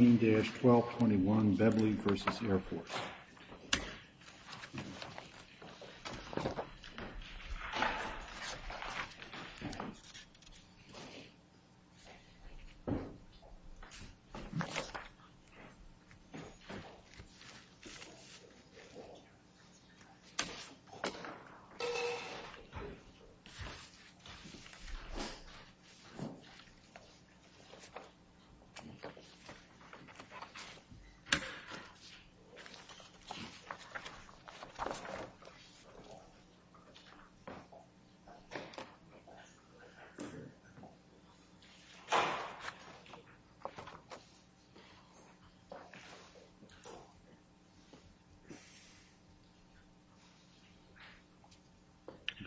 14-12-21 Bebley v. Air Force 14-12-21 Bebley v. Air Force 14-12-21 Bebley v. Air Force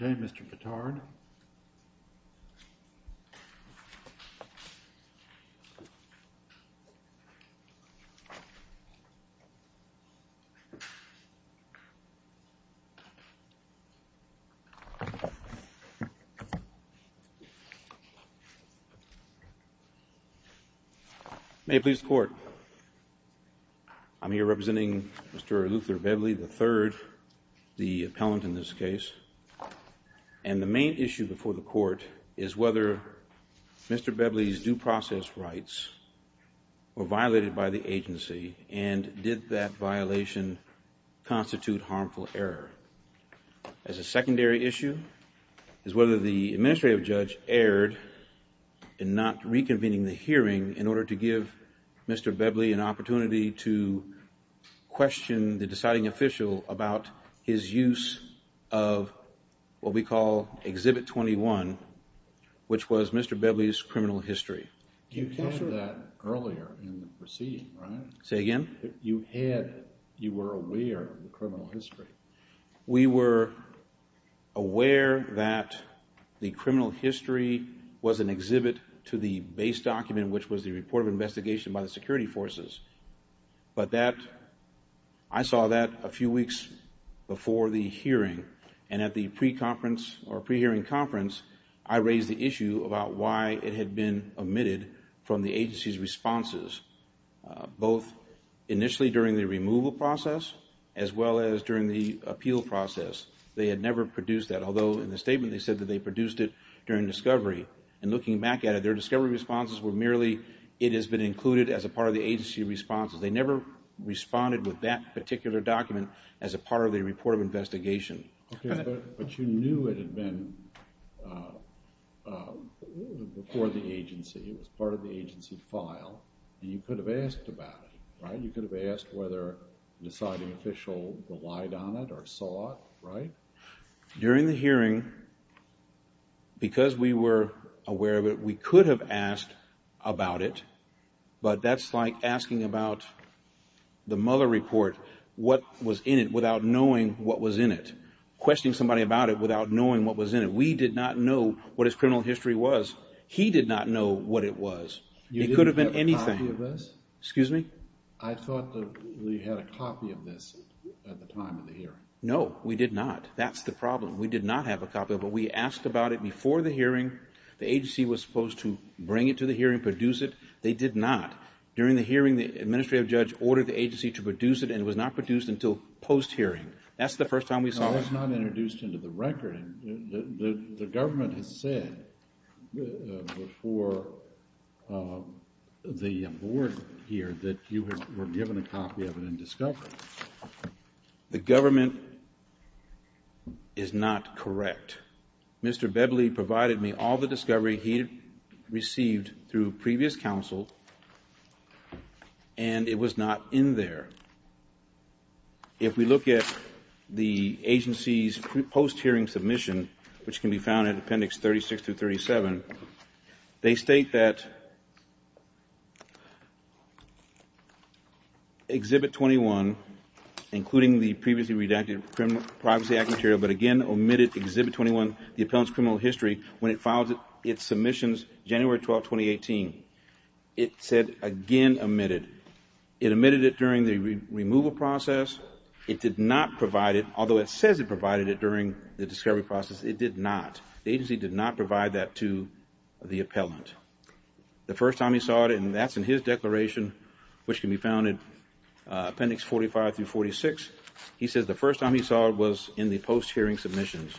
May it please the Court, I am here representing Mr. Luther Bebley III, the appellant in this process rights were violated by the agency and did that violation constitute harmful error. As a secondary issue is whether the administrative judge erred in not reconvening the hearing in order to give Mr. Bebley an opportunity to question the deciding official about his use of what we call Exhibit 21, which was Mr. Bebley's criminal history. You covered that earlier in the proceeding, right? Say again? You had, you were aware of the criminal history. We were aware that the criminal history was an exhibit to the base document, which was the report of investigation by the security forces, but that, I saw that a few weeks before the hearing and at the pre-conference or pre-hearing conference, I raised the issue about why it had been omitted from the agency's responses, both initially during the removal process as well as during the appeal process. They had never produced that, although in the statement they said that they produced it during discovery and looking back at it, their discovery responses were merely it has been included as a part of the agency responses. They never responded with that particular document as a part of the report of investigation. Okay, but you knew it had been before the agency, it was part of the agency file, and you could have asked about it, right? You could have asked whether the deciding official relied on it or saw it, right? During the hearing, because we were aware of it, we could have asked about it, but that's like asking about the Mueller report, what was in it, without knowing what was in it. Questioning somebody about it without knowing what was in it. We did not know what his criminal history was. He did not know what it was. It could have been anything. You didn't have a copy of this? Excuse me? I thought that we had a copy of this at the time of the hearing. No, we did not. That's the problem. We did not have a copy of it. We asked about it before the hearing. The agency was supposed to bring it to the hearing, produce it. They did not. During the hearing, the administrative judge ordered the agency to produce it, and it was not produced until post-hearing. That's the first time we saw it. No, it's not introduced into the record. The government has said before the board here that you were given a copy of it and discovered it. The government is not correct. Mr. Bebley provided me all the discovery he received through previous counsel, and it was not in there. If we look at the agency's post-hearing submission, which can be found in Appendix 36-37, they state that Exhibit 21, including the previously redacted Privacy Act material, but again omitted Exhibit 21, the appellant's criminal history, when it filed its submissions January 12, 2018. It said, again, omitted. It omitted it during the removal process. It did not provide it, although it says it provided it during the discovery process. It did not. The agency did not provide that to the appellant. The first time he saw it, and that's in his declaration, which can be found in Appendix 45-46, he says the first time he saw it was in the post-hearing submissions.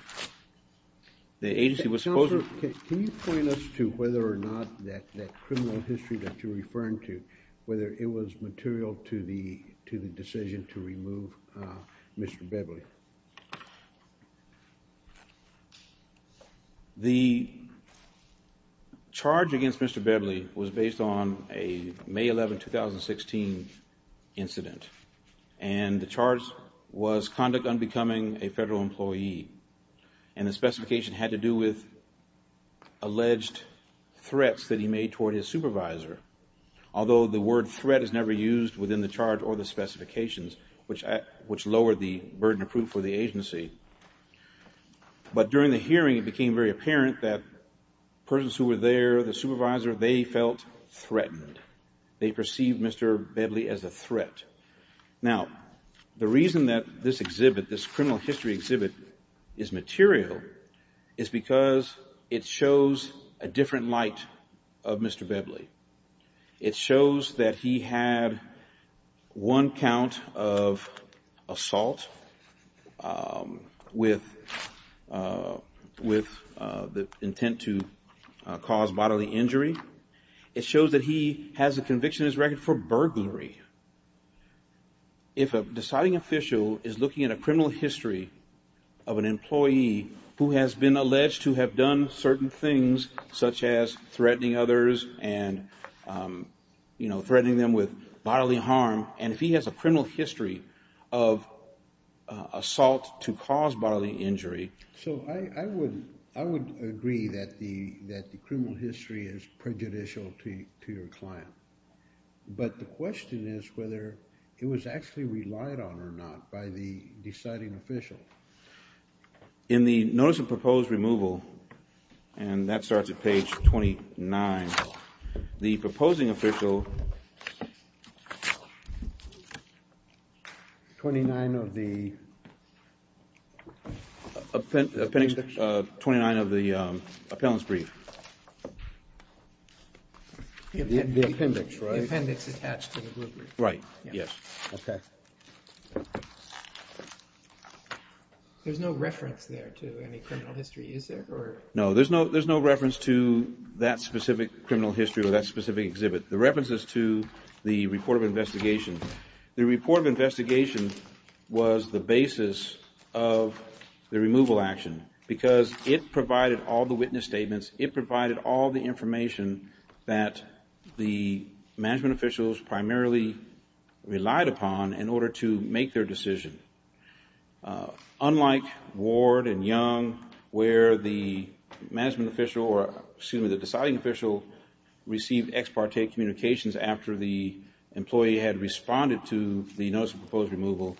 The agency was supposed to- Can you point us to whether or not that criminal history that you're referring to, whether it was material to the decision to remove Mr. Bebley? The charge against Mr. Bebley was based on a May 11, 2016, incident, and the charge was conduct unbecoming a federal employee, and the specification had to do with alleged threats that he made toward his supervisor. Although the word threat is never used within the charge or the specifications, which lowered the burden of proof for the agency, but during the hearing, it became very apparent that persons who were there, the supervisor, they felt threatened. They perceived Mr. Bebley as a threat. Now, the reason that this exhibit, this criminal history exhibit, is material is because it shows a different light of Mr. Bebley. It shows that he had one count of assault with the intent to cause bodily injury. It shows that he has a conviction in his record for burglary. If a deciding official is looking at a criminal history of an employee who has been alleged to have done certain things, such as threatening others and, you know, threatening them with bodily harm, and if he has a criminal history of assault to cause bodily injury. So I would agree that the criminal history is prejudicial to your client, but the question is whether it was actually relied on or not by the deciding official. In the notice of proposed removal, and that starts at page 29, the proposing official 29 of the appendix, 29 of the appellant's brief. The appendix, right? The appendix attached to the group brief. Right, yes. Okay. There's no reference there to any criminal history, is there? No, there's no reference to that specific criminal history or that specific exhibit. The reference is to the report of investigation. The report of investigation was the basis of the removal action because it provided all the witness statements, it provided all the information that the management officials primarily relied upon in order to make their decision. Unlike Ward and Young, where the management official, or excuse me, the deciding official received ex parte communications after the employee had responded to the notice of proposed removal,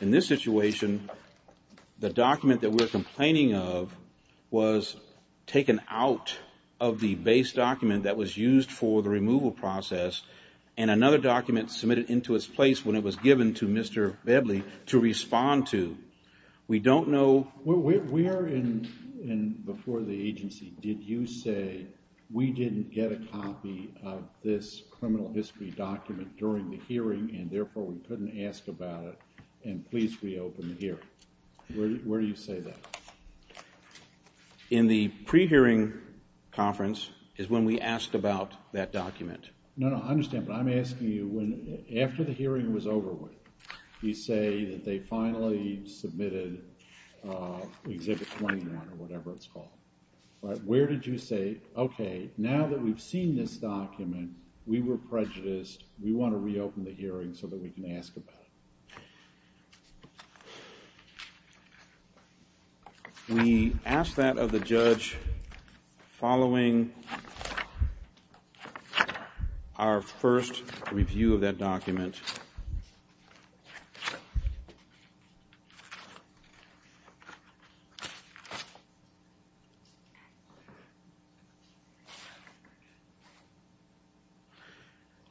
in this situation, the document that we're complaining of was taken out of the base document that was used for the removal process, and another document submitted into its place when it was given to Mr. Bedley to respond to. We don't know... Where, before the agency, did you say, we didn't get a copy of this criminal history document during the hearing, and therefore we couldn't ask about it, and please reopen the hearing? Where do you say that? In the pre-hearing conference is when we asked about that document. No, no, I understand, but I'm asking you, after the hearing was over with, you say that they finally submitted Exhibit 21, or whatever it's called. Where did you say, okay, now that we've seen this document, we were prejudiced, we want to reopen the hearing so that we can ask about it? We asked that of the judge following our first review of that document.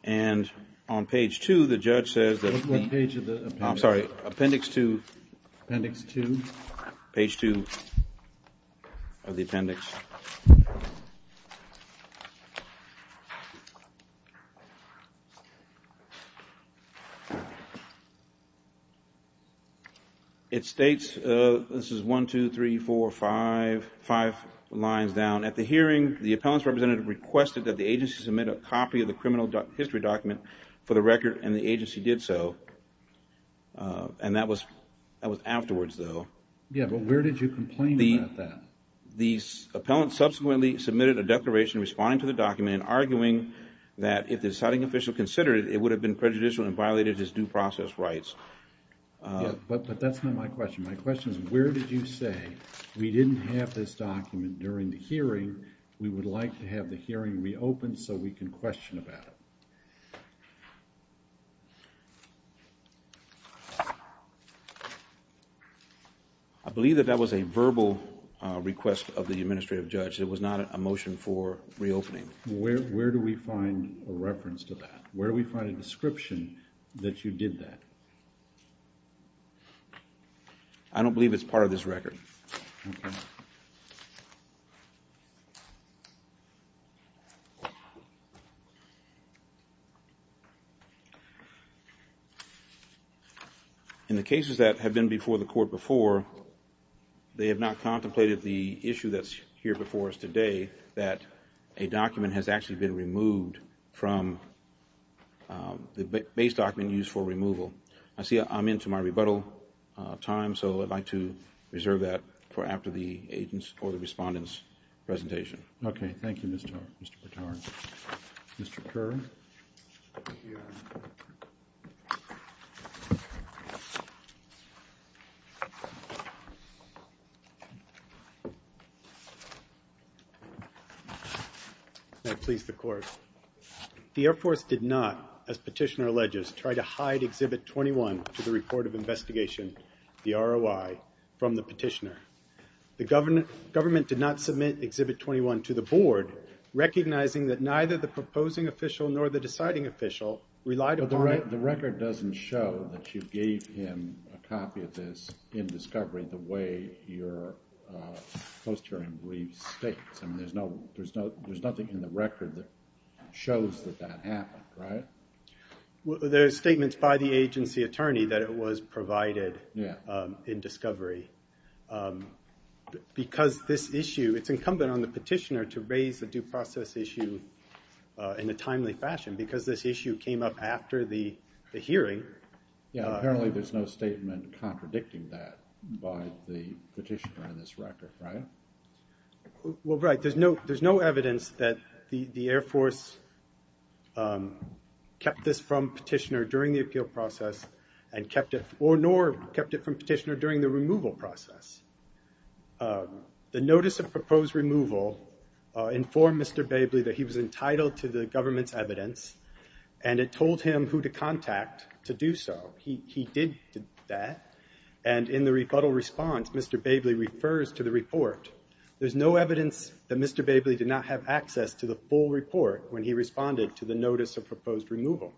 And on page two, the judge says that... What page of the appendix? I'm sorry, appendix two. Appendix two? Page two of the appendix. It states, this is one, two, three, four, five, five lines down. At the hearing, the appellant's representative requested that the agency submit a copy of the criminal history document for the record, and the agency did so. And that was afterwards, though. Yeah, but where did you complain about that? The appellant subsequently submitted a declaration responding to the document arguing that if the deciding official considered it, it would have been prejudicial and violated his due process rights. Yeah, but that's not my question. My question is, where did you say, we didn't have this document during the hearing, we would like to have the hearing reopened so we can question about it? I believe that that was a verbal request of the administrative judge. It was not a motion for reopening. Where do we find a reference to that? Where do we find a description that you did that? I don't believe it's part of this record. Okay. In the cases that have been before the court before, they have not contemplated the issue that's here before us today, that a document has actually been removed from the base document used for removal. I see I'm into my rebuttal time, so I'd like to reserve that for after the agent's or the respondent's presentation. Okay. Thank you, Mr. Burtard. Mr. Kerr. May it please the Court. The Air Force did not, as Petitioner alleges, try to hide Exhibit 21 to the report of investigation, the ROI, from the Petitioner. The government did not submit Exhibit 21 to the Board, recognizing that neither the proposing official nor the deciding official relied upon it. The record doesn't show that you gave him a copy of this in discovery the way your post-hearing brief states. I mean, there's nothing in the record that shows that that happened, right? There are statements by the agency attorney that it was provided in discovery. Because this issue, it's incumbent on the Petitioner to raise the due process issue in a timely fashion because this issue came up after the hearing. Yeah, apparently there's no statement contradicting that by the Petitioner in this record, right? Well, right. There's no evidence that the Air Force kept this from Petitioner during the appeal process and kept it, or nor kept it from Petitioner during the removal process. The notice of proposed removal informed Mr. Babley that he was entitled to the government's evidence, and it told him who to contact to do so. He did that, and in the rebuttal response, Mr. Babley refers to the report. There's no evidence that Mr. Babley did not have access to the full report when he responded to the notice of proposed removal.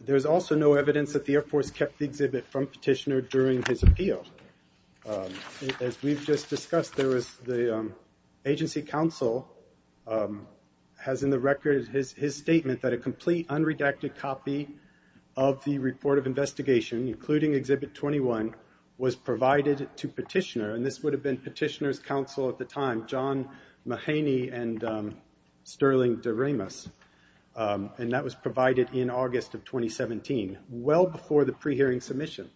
There's also no evidence that the Air Force kept the exhibit from Petitioner during his appeal. As we've just discussed, the agency counsel has in the record his statement that a complete unredacted copy of the report of investigation, including Exhibit 21, was provided to Petitioner, and this would have been Petitioner's counsel at the time, John Mahaney and Sterling de Ramos, and that was provided in August of 2017, well before the pre-hearing submission,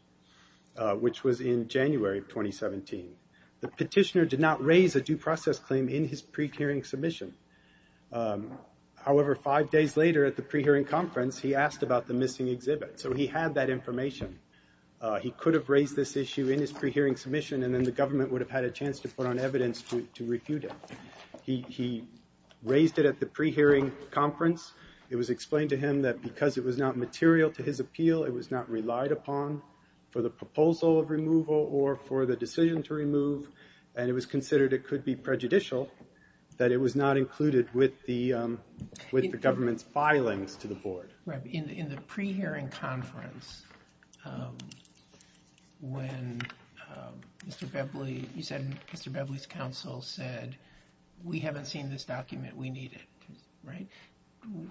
which was in January of 2017. The Petitioner did not raise a due process claim in his pre-hearing submission. However, five days later at the pre-hearing conference, he asked about the missing exhibit, so he had that information. He could have raised this issue in his pre-hearing submission, and then the government would have had a chance to put on evidence to refute it. He raised it at the pre-hearing conference. It was explained to him that because it was not material to his appeal, it was not relied upon for the proposal of removal or for the decision to remove, and it was considered it could be prejudicial that it was not included with the government's filings to the board. In the pre-hearing conference, when Mr. Bevely, you said Mr. Bevely's counsel said, we haven't seen this document, we need it, right?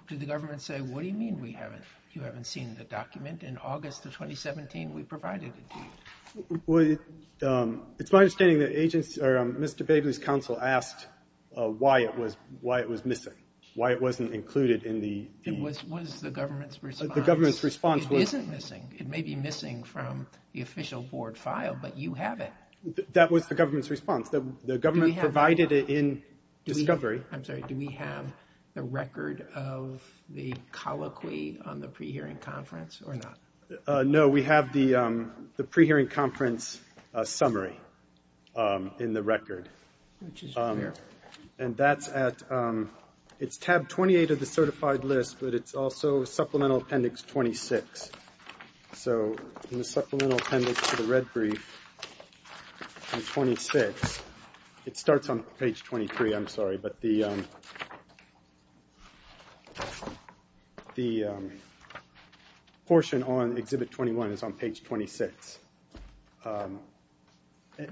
Did the government say, what do you mean we haven't, you haven't seen the document? In August of 2017, we provided it to you. It's my understanding that Mr. Bevely's counsel asked why it was missing, why it wasn't included in the. It was the government's response. The government's response was. It isn't missing. It may be missing from the official board file, but you have it. That was the government's response. The government provided it in discovery. I'm sorry, do we have the record of the colloquy on the pre-hearing conference or not? No, we have the pre-hearing conference summary in the record. Which is here. And that's at, it's tab 28 of the certified list, but it's also supplemental appendix 26. So in the supplemental appendix to the red brief on 26, it starts on page 23, I'm sorry, but the portion on exhibit 21 is on page 26.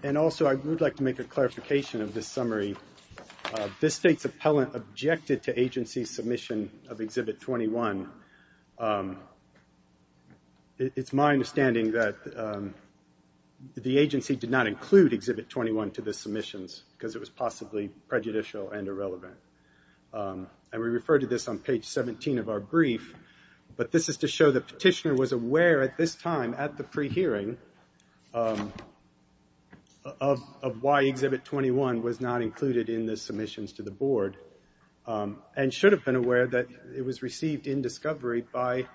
And also, I would like to make a clarification of this summary. This state's appellant objected to agency submission of exhibit 21. It's my understanding that the agency did not include exhibit 21 to the submissions, because it was possibly prejudicial and irrelevant. And we refer to this on page 17 of our brief. But this is to show the petitioner was aware at this time, at the pre-hearing, of why exhibit 21 was not included in the submissions to the board. And should have been aware that it was received in discovery by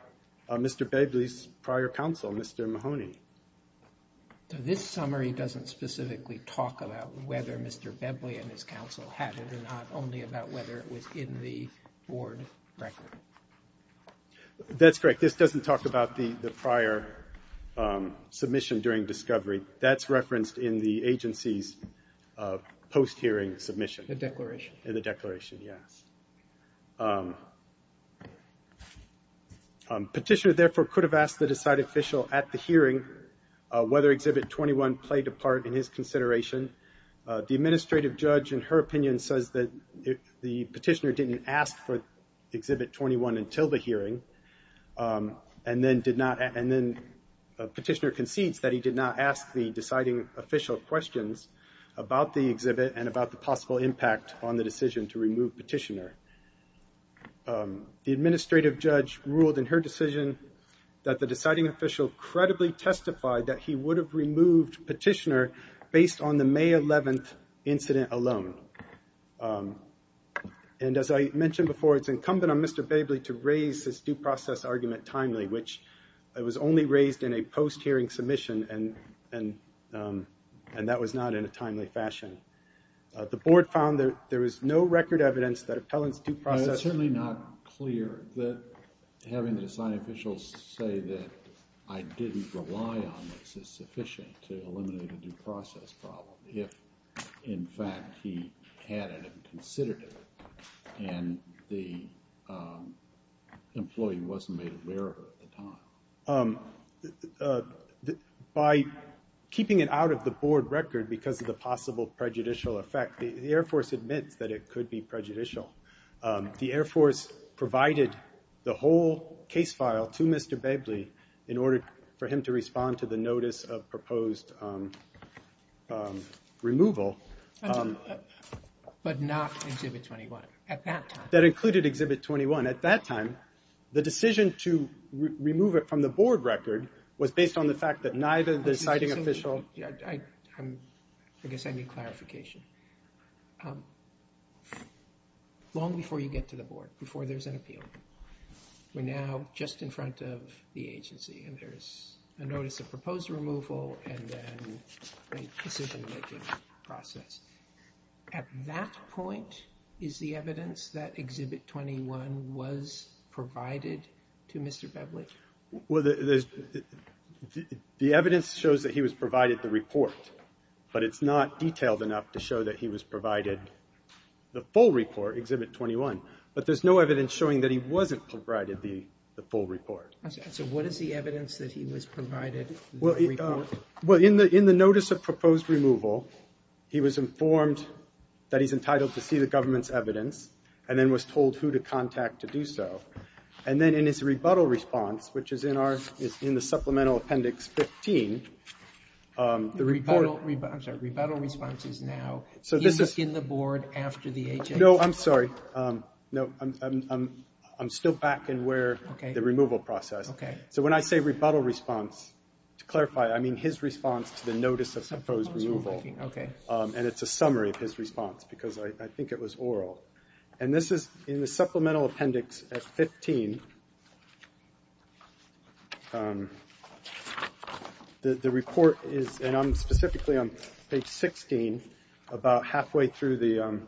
Mr. Bevely's prior counsel, Mr. Mahoney. So this summary doesn't specifically talk about whether Mr. Bevely and his counsel had it and not only about whether it was in the board record. That's correct. This doesn't talk about the prior submission during discovery. That's referenced in the agency's post-hearing submission. The declaration. The declaration, yes. Petitioner, therefore, could have asked the decided official at the hearing whether exhibit 21 played a part in his consideration. The administrative judge, in her opinion, says that the petitioner didn't ask for exhibit 21 until the hearing. And then petitioner concedes that he did not ask the deciding official questions about the exhibit and about the possible impact on the decision to remove petitioner. The administrative judge ruled in her decision that the deciding official incredibly testified that he would have removed petitioner based on the May 11th incident alone. And as I mentioned before, it's incumbent on Mr. Bevely to raise his due process argument timely, which it was only raised in a post-hearing submission and that was not in a timely fashion. The board found that there is no record evidence that appellants due process. It's certainly not clear that having the deciding official say that I didn't rely on this is sufficient to eliminate a due process problem if, in fact, he had it and considered it and the employee wasn't made aware of it at the time. By keeping it out of the board record because of the possible prejudicial effect, the Air Force admits that it could be prejudicial. The Air Force provided the whole case file to Mr. Bevely in order for him to respond to the notice of proposed removal. But not exhibit 21 at that time. That included exhibit 21. At that time, the decision to remove it from the board record was based on the fact that neither the deciding official... I guess I need clarification. Long before you get to the board, before there's an appeal, we're now just in front of the agency and there's a notice of proposed removal and then a decision-making process. At that point, is the evidence that exhibit 21 was provided to Mr. Bevely? Well, the evidence shows that he was provided the report, but it's not detailed enough to show that he was provided the full report, exhibit 21. But there's no evidence showing that he wasn't provided the full report. So what is the evidence that he was provided the report? Well, in the notice of proposed removal, he was informed that he's entitled to see the government's evidence and then was told who to contact to do so. And then in his rebuttal response, which is in the Supplemental Appendix 15, the report... I'm sorry, rebuttal response is now. So this is... He's in the board after the agency. No, I'm sorry. No, I'm still back in where the removal process... Okay. So when I say rebuttal response, to clarify, I mean his response to the notice of proposed removal. Okay. And it's a summary of his response because I think it was oral. And this is in the Supplemental Appendix 15. The report is, and I'm specifically on page 16, about halfway through the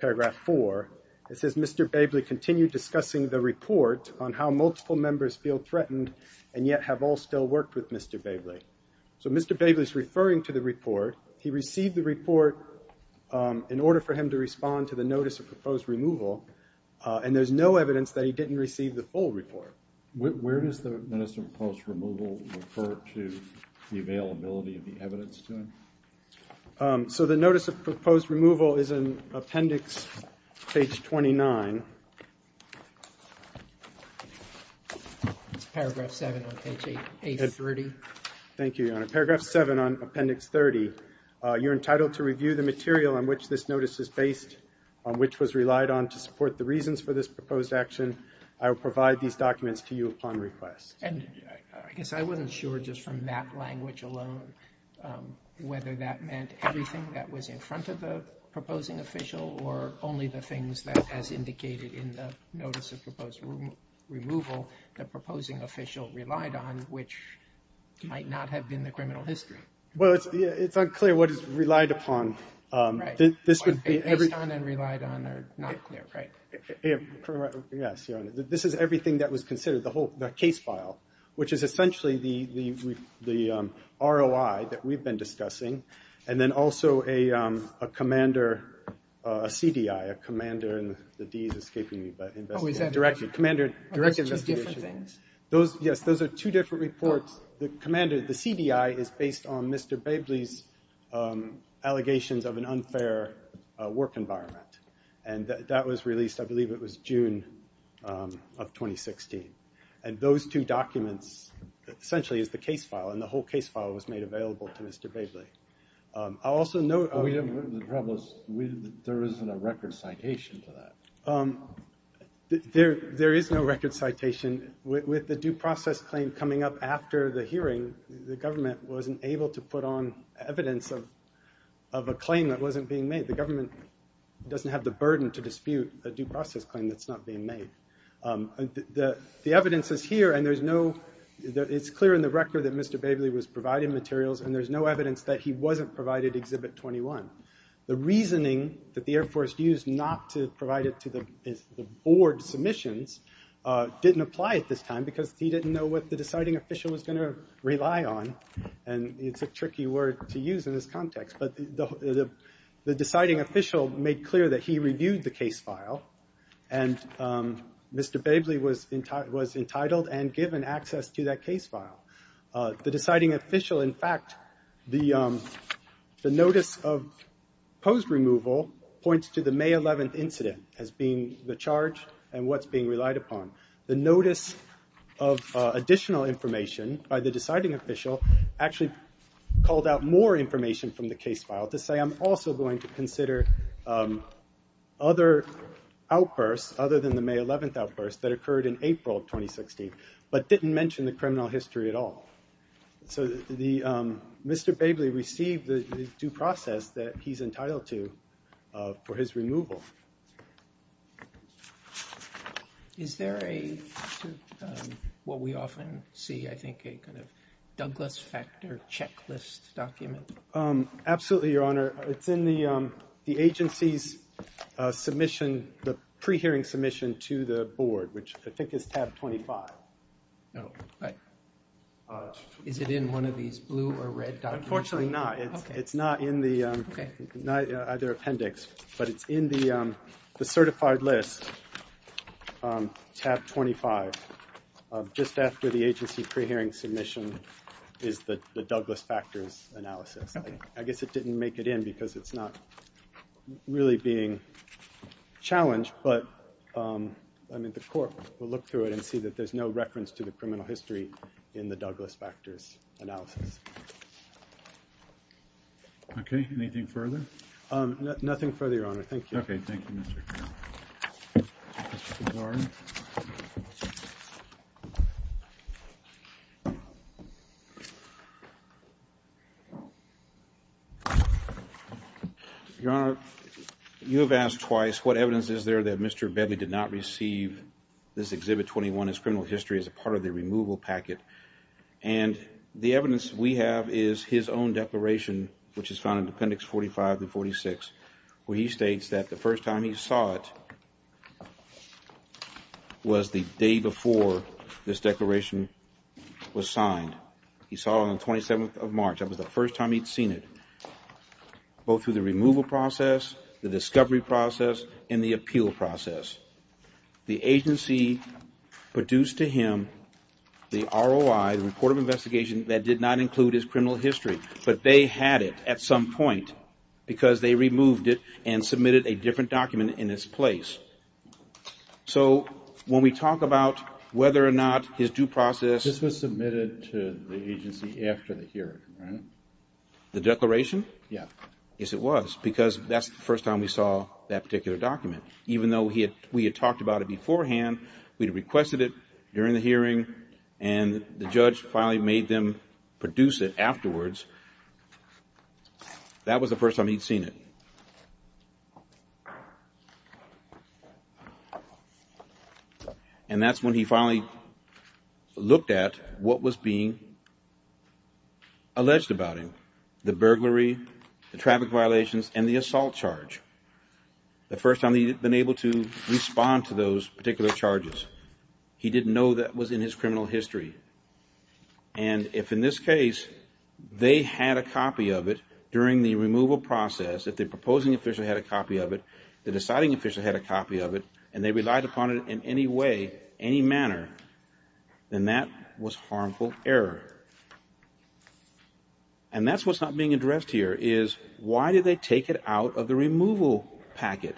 paragraph 4. It says, Mr. Babley continued discussing the report on how multiple members feel threatened and yet have all still worked with Mr. Babley. So Mr. Babley's referring to the report. He received the report in order for him to respond to the notice of proposed removal, and there's no evidence that he didn't receive the full report. Where does the notice of proposed removal refer to the availability of the evidence to him? So the notice of proposed removal is in Appendix page 29. It's paragraph 7 on page 830. Thank you, Your Honor. In paragraph 7 on Appendix 30, you're entitled to review the material on which this notice is based, on which was relied on to support the reasons for this proposed action. I will provide these documents to you upon request. And I guess I wasn't sure just from that language alone whether that meant everything that was in front of the proposing official or only the things that, as indicated in the notice of proposed removal, the proposing official relied on, which might not have been the criminal history. Well, it's unclear what is relied upon. Based on and relied on are not clear, right? Yes, Your Honor. This is everything that was considered, the case file, which is essentially the ROI that we've been discussing, and then also a CDI, a commander, and the D is escaping me. Oh, is that two different things? Yes, those are two different reports. The CDI is based on Mr. Babley's allegations of an unfair work environment, and that was released, I believe it was June of 2016. And those two documents essentially is the case file, and the whole case file was made available to Mr. Babley. The problem is there isn't a record citation for that. There is no record citation. With the due process claim coming up after the hearing, the government wasn't able to put on evidence of a claim that wasn't being made. The government doesn't have the burden to dispute a due process claim that's not being made. The evidence is here, and it's clear in the record that Mr. Babley was providing materials, and there's no evidence that he wasn't provided Exhibit 21. The reasoning that the Air Force used not to provide it to the board submissions didn't apply at this time because he didn't know what the deciding official was going to rely on, and it's a tricky word to use in this context. But the deciding official made clear that he reviewed the case file, and Mr. Babley was entitled and given access to that case file. The deciding official, in fact, the notice of post-removal points to the May 11th incident as being the charge and what's being relied upon. The notice of additional information by the deciding official actually called out more information from the case file to say I'm also going to consider other outbursts other than the May 11th outburst that occurred in April 2016, but didn't mention the criminal history at all. So Mr. Babley received the due process that he's entitled to for his removal. Is there what we often see, I think, a kind of Douglas factor checklist document? Absolutely, Your Honor. It's in the agency's pre-hearing submission to the board, which I think is tab 25. Is it in one of these blue or red documents? Unfortunately not. It's not in either appendix, but it's in the certified list, tab 25, just after the agency pre-hearing submission is the Douglas factors analysis. I guess it didn't make it in because it's not really being challenged, but the court will look through it and see that there's no reference to the criminal history in the Douglas factors analysis. Okay. Anything further? Nothing further, Your Honor. Thank you. Okay. Mr. Gardner. Your Honor, you have asked twice what evidence is there that Mr. Babley did not receive this Exhibit 21 as criminal history as a part of the removal packet, and the evidence we have is his own declaration, which is found in appendix 45 to 46, where he states that the first time he saw it was the day before this declaration was signed. He saw it on the 27th of March. That was the first time he'd seen it, both through the removal process, the discovery process, and the appeal process. The agency produced to him the ROI, the report of investigation, that did not include his criminal history, but they had it at some point because they removed it and submitted a different document in its place. So when we talk about whether or not his due process – This was submitted to the agency after the hearing, right? The declaration? Yeah. Yes, it was, because that's the first time we saw that particular document. We had talked about it beforehand. We had requested it during the hearing, and the judge finally made them produce it afterwards. That was the first time he'd seen it. And that's when he finally looked at what was being alleged about him – the burglary, the traffic violations, and the assault charge. The first time he'd been able to respond to those particular charges. He didn't know that was in his criminal history. And if, in this case, they had a copy of it during the removal process, if the proposing official had a copy of it, the deciding official had a copy of it, and they relied upon it in any way, any manner, then that was harmful error. And that's what's not being addressed here, is why did they take it out of the removal packet?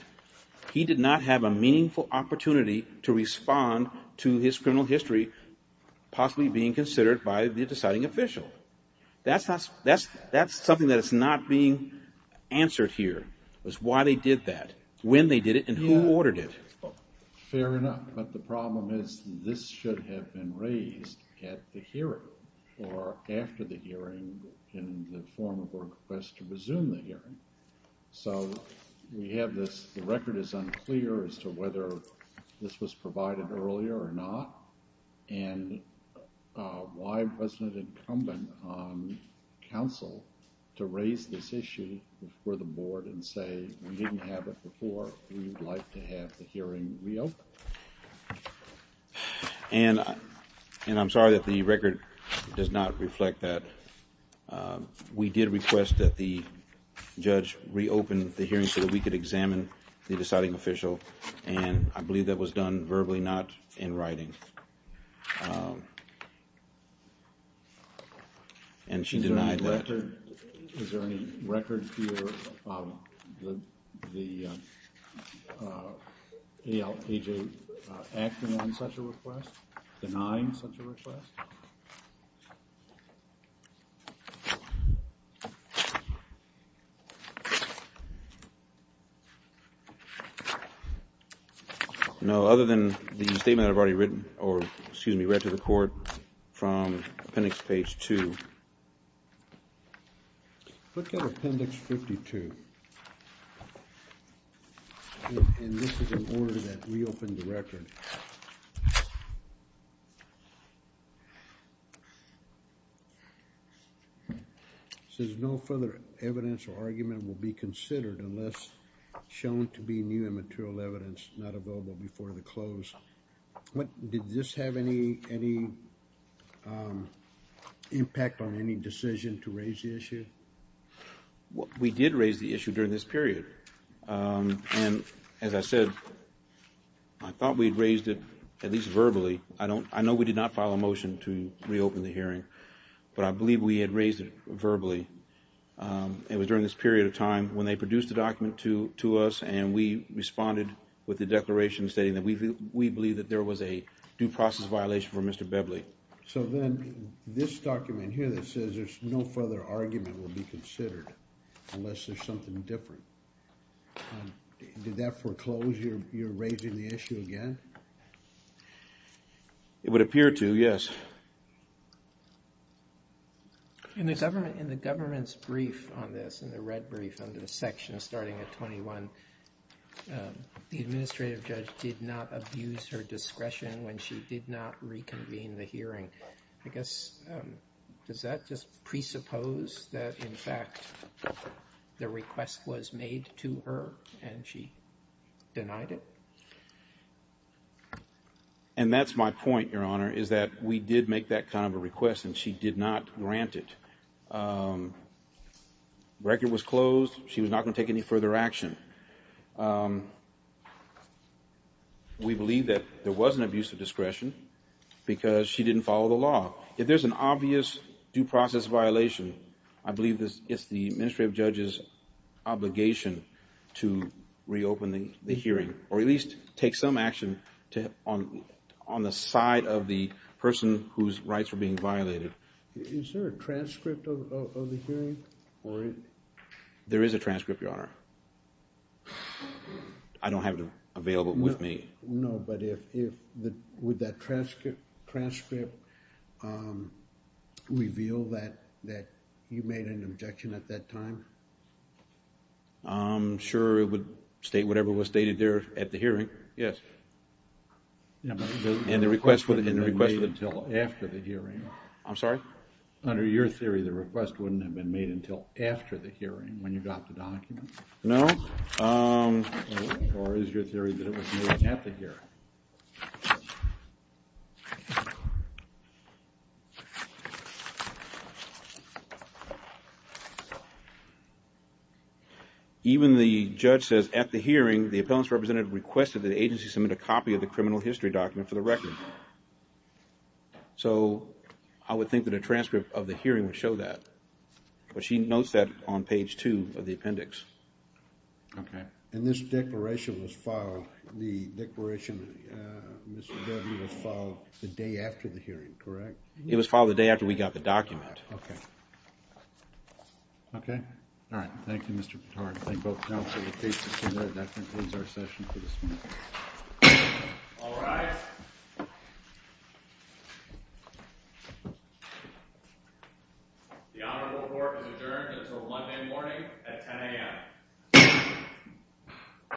He did not have a meaningful opportunity to respond to his criminal history possibly being considered by the deciding official. That's something that is not being answered here, is why they did that, when they did it, and who ordered it. Fair enough, but the problem is this should have been raised at the hearing, or after the hearing in the form of a request to resume the hearing. So we have this – the record is unclear as to whether this was provided earlier or not, and why wasn't it incumbent on counsel to raise this issue before the board and say, we didn't have it before, we would like to have the hearing reopened? And I'm sorry that the record does not reflect that. We did request that the judge reopen the hearing so that we could examine the deciding official, and I believe that was done verbally, not in writing. And she denied that. Is there any record here of the A.J. acting on such a request, denying such a request? No. No, other than the statement I've already written – or, excuse me, read to the court from appendix page 2. Look at appendix 52, and this is an order that reopened the record. It says no further evidence or argument will be considered unless shown to be new and material evidence not available before the close. Did this have any impact on any decision to raise the issue? We did raise the issue during this period. And as I said, I thought we had raised it at least verbally. I know we did not file a motion to reopen the hearing, but I believe we had raised it verbally. It was during this period of time when they produced the document to us, and we responded with the declaration stating that we believe that there was a due process violation from Mr. Beverly. So then this document here that says there's no further argument will be considered unless there's something different. Did that foreclose your raising the issue again? It would appear to, yes. In the government's brief on this, in the red brief under the section starting at 21, the administrative judge did not abuse her discretion when she did not reconvene the hearing. I guess does that just presuppose that, in fact, the request was made to her and she denied it? And that's my point, Your Honor, is that we did make that kind of a request and she did not grant it. The record was closed. She was not going to take any further action. We believe that there was an abuse of discretion because she didn't follow the law. If there's an obvious due process violation, I believe it's the administrative judge's obligation to reopen the hearing or at least take some action on the side of the person whose rights were being violated. Is there a transcript of the hearing? There is a transcript, Your Honor. I don't have it available with me. No, but would that transcript reveal that you made an objection at that time? I'm sure it would state whatever was stated there at the hearing, yes. And the request would have been made until after the hearing. I'm sorry? Under your theory, the request wouldn't have been made until after the hearing when you got the document? No. Or is your theory that it was made at the hearing? Even the judge says at the hearing, the appellant's representative requested that the agency submit a copy of the criminal history document for the record. So I would think that a transcript of the hearing would show that. But she notes that on page two of the appendix. Okay. And this declaration was filed the day after the hearing, correct? It was filed the day after we got the document. Okay. Okay? All right. Thank you, Mr. Pittard. Thank both counsel and the case procurator. That concludes our session for this morning. All rise. The honorable court is adjourned until Monday morning at 10 a.m.